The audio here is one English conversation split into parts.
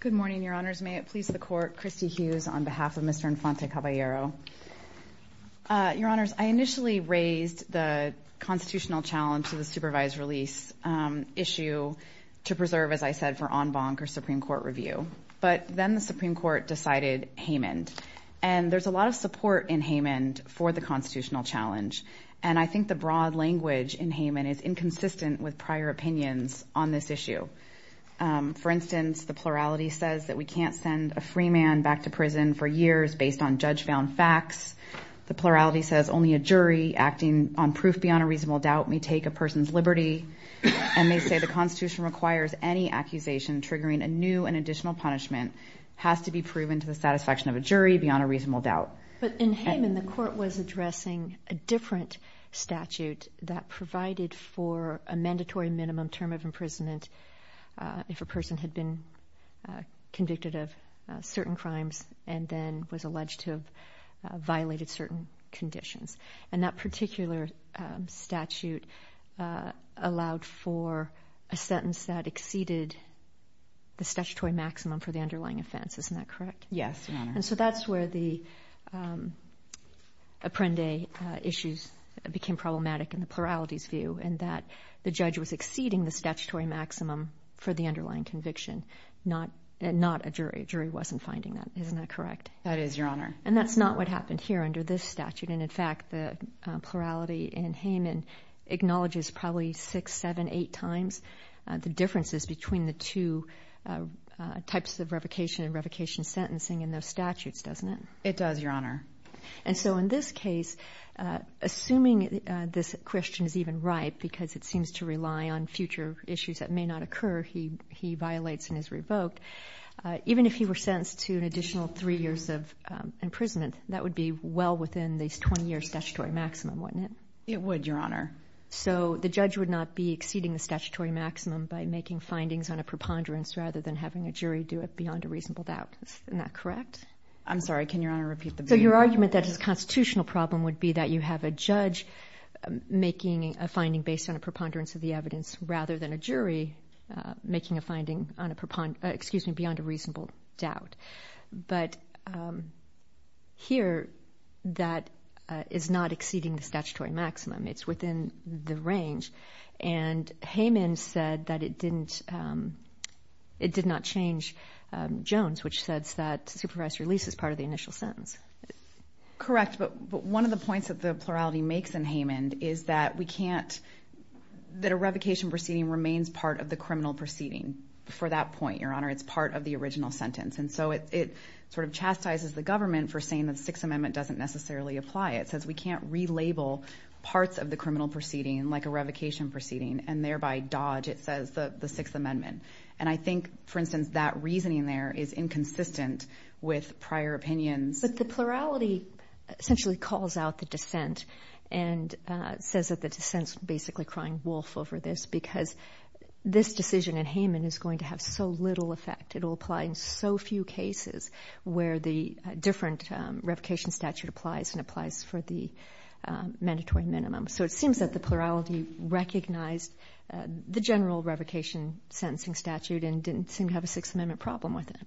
Good morning, Your Honors. May it please the Court, Christy Hughes on behalf of Mr. Infante-Caballero. Your Honors, I initially raised the constitutional challenge to the supervised release issue to preserve, as I said, for en banc or Supreme Court review. But then the Supreme Court decided And there's a lot of support in Haymond for the constitutional challenge. And I think the broad language in Haymond is inconsistent with prior opinions on this issue. For instance, the plurality says that we can't send a free man back to prison for years based on judge-bound facts. The plurality says only a jury acting on proof beyond a reasonable doubt may take a person's liberty. And they say the Constitution requires any accusation triggering a new and additional punishment has to be proven to the satisfaction of a jury beyond a reasonable doubt. But in Haymond, the Court was addressing a different statute that provided for a mandatory minimum term of imprisonment if a person had been convicted of certain crimes and then was alleged to have violated certain conditions. And that particular statute allowed for a sentence that exceeded the statutory maximum for the underlying offense. Isn't that correct? Yes, Your Honor. And so that's where the Apprende issues became problematic in the plurality's view, in that the judge was exceeding the statutory maximum for the underlying conviction, not a jury. A jury wasn't finding that. Isn't that correct? That is, Your Honor. And that's not what happened here under this statute. And in fact, the plurality in Haymond acknowledges probably six, seven, eight times the differences between the two types of revocation and revocation sentencing in those statutes, doesn't it? It does, Your Honor. And so in this case, assuming this question is even right because it seems to rely on future issues that may not occur, he violates and is revoked, even if he were sentenced to an additional three years of imprisonment, that would be well within the 20-year statutory maximum, wouldn't it? It would, Your Honor. So the judge would not be exceeding the statutory maximum by making findings on a preponderance rather than having a jury do it beyond a reasonable doubt. Isn't that correct? I'm sorry. Can Your Honor repeat the question? So your argument that his constitutional problem would be that you have a judge making a finding based on a preponderance of the evidence rather than a jury making a finding beyond a reasonable doubt. But here, that is not exceeding the statutory maximum. It's within the range. And Haymond said that it did not change Jones, which says that supervised release is part of the initial sentence. Correct, but one of the points that the plurality makes in Haymond is that we can't – that a revocation proceeding remains part of the criminal proceeding. For that point, Your Honor, it's part of the original sentence. And so it sort of chastises the government for saying that the Sixth Amendment doesn't necessarily apply. It says we can't relabel parts of the criminal proceeding like a revocation proceeding and thereby dodge, it says, the Sixth Amendment. And I think, for instance, that reasoning there is inconsistent with prior opinions. But the plurality essentially calls out the dissent and says that the dissent is basically crying wolf over this because this decision in Haymond is going to have so little effect. It will apply in so few cases where the different revocation statute applies and applies for the mandatory minimum. So it seems that the plurality recognized the general revocation sentencing statute and didn't seem to have a Sixth Amendment problem with it.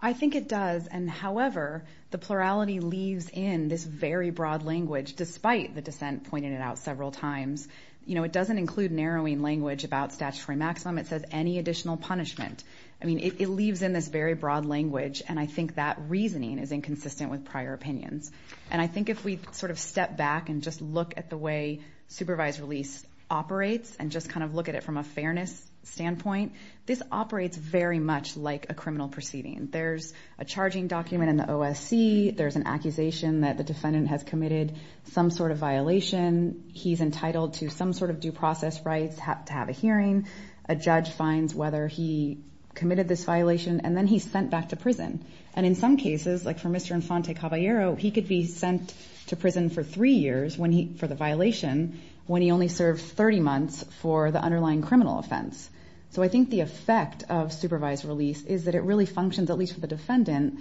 I think it does. And, however, the plurality leaves in this very broad language, despite the dissent pointing it out several times. You know, it doesn't include narrowing language about statutory maximum. It says any additional punishment. I mean, it leaves in this very broad language, and I think that reasoning is inconsistent with prior opinions. And I think if we sort of step back and just look at the way supervised release operates and just kind of look at it from a fairness standpoint, this operates very much like a criminal proceeding. There's a charging document in the OSC. There's an accusation that the defendant has committed some sort of violation. He's entitled to some sort of due process rights to have a hearing. A judge finds whether he committed this violation, and then he's sent back to prison. And in some cases, like for Mr. Infante Caballero, he could be sent to prison for three years for the violation when he only served 30 months for the underlying criminal offense. So I think the effect of supervised release is that it really functions, at least for the defendant,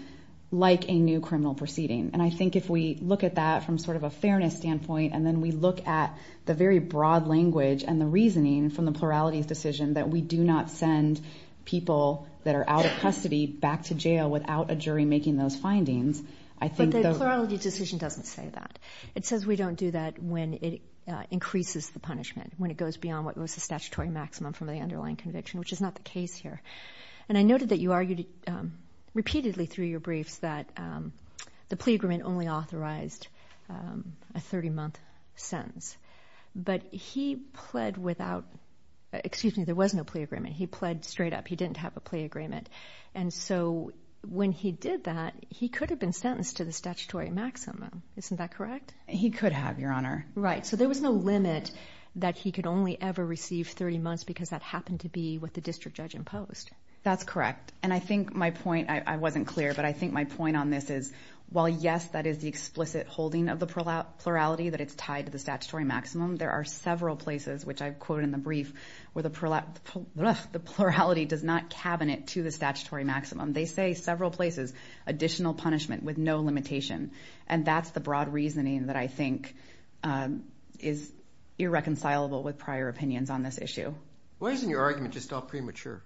like a new criminal proceeding. And I think if we look at that from sort of a fairness standpoint, and then we look at the very broad language and the reasoning from the plurality's decision that we do not send people that are out of custody back to jail without a jury making those findings, I think that But the plurality decision doesn't say that. It says we don't do that when it increases the punishment, when it goes beyond what was the statutory maximum from the underlying conviction, which is not the case here. And I noted that you argued repeatedly through your briefs that the plea agreement only authorized a 30-month sentence. But he pled without – excuse me, there was no plea agreement. He pled straight up. He didn't have a plea agreement. And so when he did that, he could have been sentenced to the statutory maximum. Isn't that correct? He could have, Your Honor. Right. So there was no limit that he could only ever receive 30 months because that happened to be what the district judge imposed. That's correct. And I think my point – I wasn't clear, but I think my point on this is, while, yes, that is the explicit holding of the plurality that it's tied to the statutory maximum, there are several places, which I've quoted in the brief, where the plurality does not cabinet to the statutory maximum. They say several places, additional punishment with no limitation. And that's the broad reasoning that I think is irreconcilable with prior opinions on this issue. Why isn't your argument just all premature?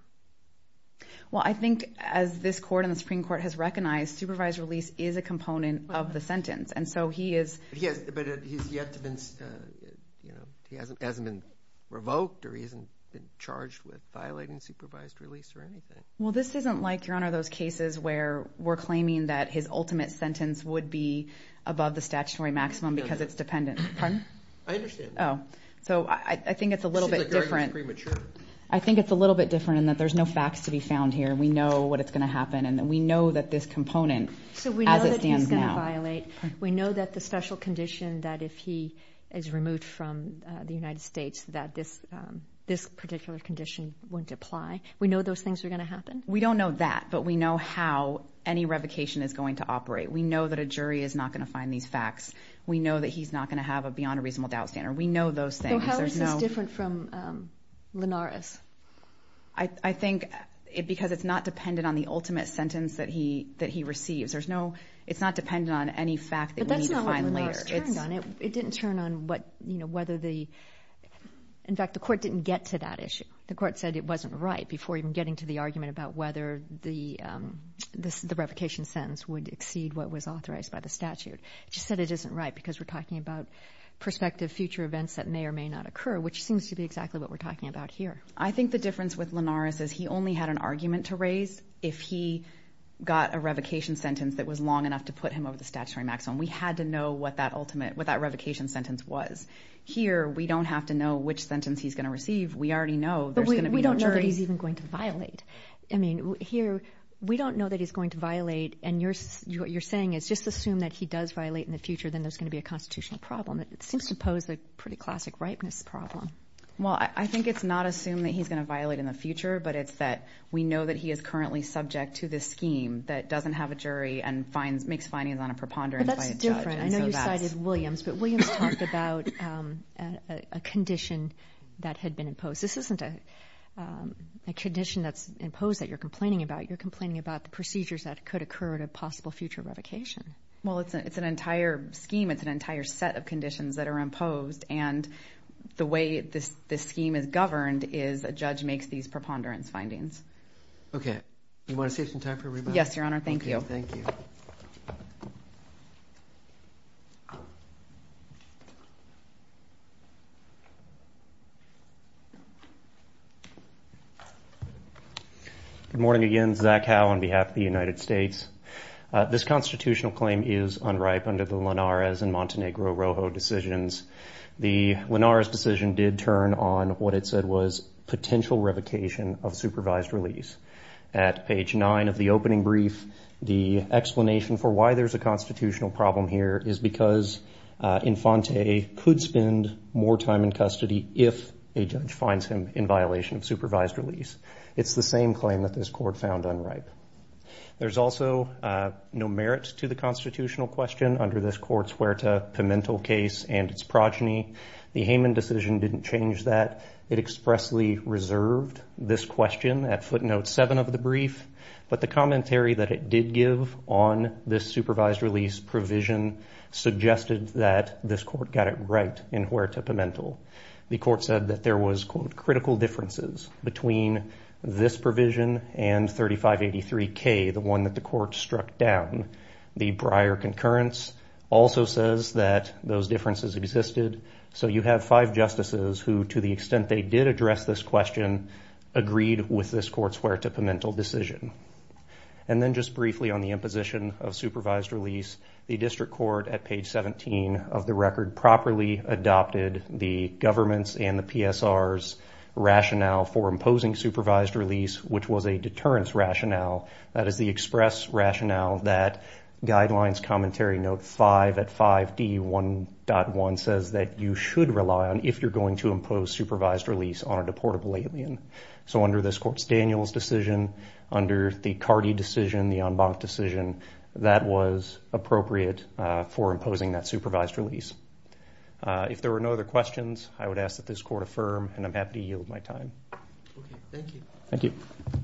Well, I think as this court and the Supreme Court has recognized, supervised release is a component of the sentence. And so he is – But he's yet to been – he hasn't been revoked or he hasn't been charged with violating supervised release or anything. Well, this isn't like, Your Honor, those cases where we're claiming that his ultimate sentence would be above the statutory maximum because it's dependent. Pardon? I understand. So I think it's a little bit different. Your argument is premature. I think it's a little bit different in that there's no facts to be found here. We know what is going to happen, and we know that this component, as it stands now – So we know that he's going to violate. Pardon? We know that the special condition that if he is removed from the United States that this particular condition wouldn't apply. We know those things are going to happen. We don't know that, but we know how any revocation is going to operate. We know that a jury is not going to find these facts. We know that he's not going to have a beyond a reasonable doubt standard. We know those things. So how is this different from Linares? I think because it's not dependent on the ultimate sentence that he receives. There's no – it's not dependent on any fact that we need to find later. But that's not what Linares turned on. It didn't turn on whether the – in fact, the Court didn't get to that issue. The Court said it wasn't right before even getting to the argument about whether the revocation sentence would exceed what was authorized by the statute. It just said it isn't right because we're talking about prospective future events that may or may not occur, which seems to be exactly what we're talking about here. I think the difference with Linares is he only had an argument to raise if he got a revocation sentence that was long enough to put him over the statutory maximum. We had to know what that ultimate – what that revocation sentence was. Here, we don't have to know which sentence he's going to receive. We already know there's going to be no jury. But we don't know that he's even going to violate. I mean, here, we don't know that he's going to violate. And what you're saying is just assume that he does violate in the future, then there's going to be a constitutional problem. It seems to pose a pretty classic ripeness problem. Well, I think it's not assume that he's going to violate in the future, but it's that we know that he is currently subject to this scheme that doesn't have a jury and makes findings on a preponderance by a judge. But that's different. I know you cited Williams. But Williams talked about a condition that had been imposed. This isn't a condition that's imposed that you're complaining about. You're complaining about the procedures that could occur at a possible future revocation. Well, it's an entire scheme. It's an entire set of conditions that are imposed. And the way this scheme is governed is a judge makes these preponderance findings. Okay. Do you want to save some time for everybody? Yes, Your Honor. Thank you. Okay. Thank you. Good morning again. Zach Howe on behalf of the United States. This constitutional claim is unripe under the Linares and Montenegro-Rojo decisions. The Linares decision did turn on what it said was potential revocation of supervised release. At page 9 of the opening brief, the explanation for why there's a constitutional problem here is because Infante could spend more time in custody if a judge finds him in violation of supervised release. It's the same claim that this Court found unripe. There's also no merit to the constitutional question under this Court's Huerta-Pimentel case and its progeny. The Heyman decision didn't change that. It expressly reserved this question at footnote 7 of the brief, but the commentary that it did give on this supervised release provision suggested that this Court got it right in Huerta-Pimentel. The Court said that there was, quote, critical differences between this provision and 3583K, the one that the Court struck down. The Breyer concurrence also says that those differences existed. So you have five justices who, to the extent they did address this question, agreed with this Court's Huerta-Pimentel decision. And then just briefly on the imposition of supervised release, the District Court at page 17 of the record properly adopted the government's and the PSR's rationale for imposing supervised release, which was a deterrence rationale. That is the express rationale that Guidelines Commentary Note 5 at 5D1.1 says that you should rely on if you're going to impose supervised release on a deportable alien. So under this Court's Daniels decision, under the Carty decision, the en banc decision, that was appropriate for imposing that supervised release. If there were no other questions, I would ask that this Court affirm, and I'm happy to yield my time. Okay, thank you. Thank you. Thank you.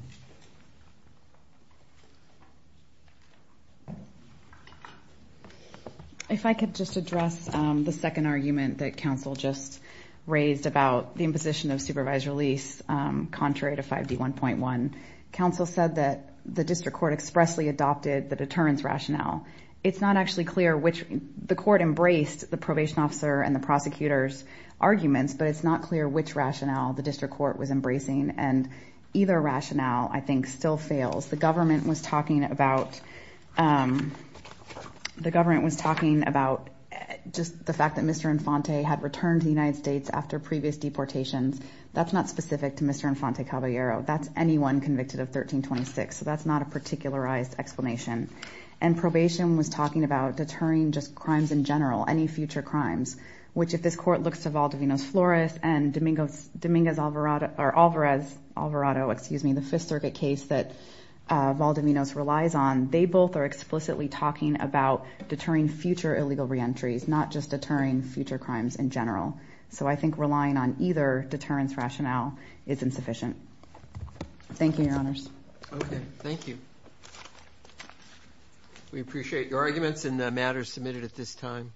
If I could just address the second argument that counsel just raised about the imposition of supervised release contrary to 5D1.1. Counsel said that the District Court expressly adopted the deterrence rationale. It's not actually clear which the Court embraced, the probation officer and the prosecutor's arguments, but it's not clear which rationale the District Court was embracing, and either rationale, I think, still fails. The government was talking about just the fact that Mr. Infante had returned to the United States after previous deportations. That's not specific to Mr. Infante Caballero. That's anyone convicted of 1326, so that's not a particularized explanation. And probation was talking about deterring just crimes in general, any future crimes, which if this Court looks to Valdivinos Flores and Alvarez Alvarado, the Fifth Circuit case that Valdivinos relies on, they both are explicitly talking about deterring future illegal reentries, not just deterring future crimes in general. So I think relying on either deterrence rationale is insufficient. Thank you, Your Honors. Okay, thank you. We appreciate your arguments and the matters submitted at this time.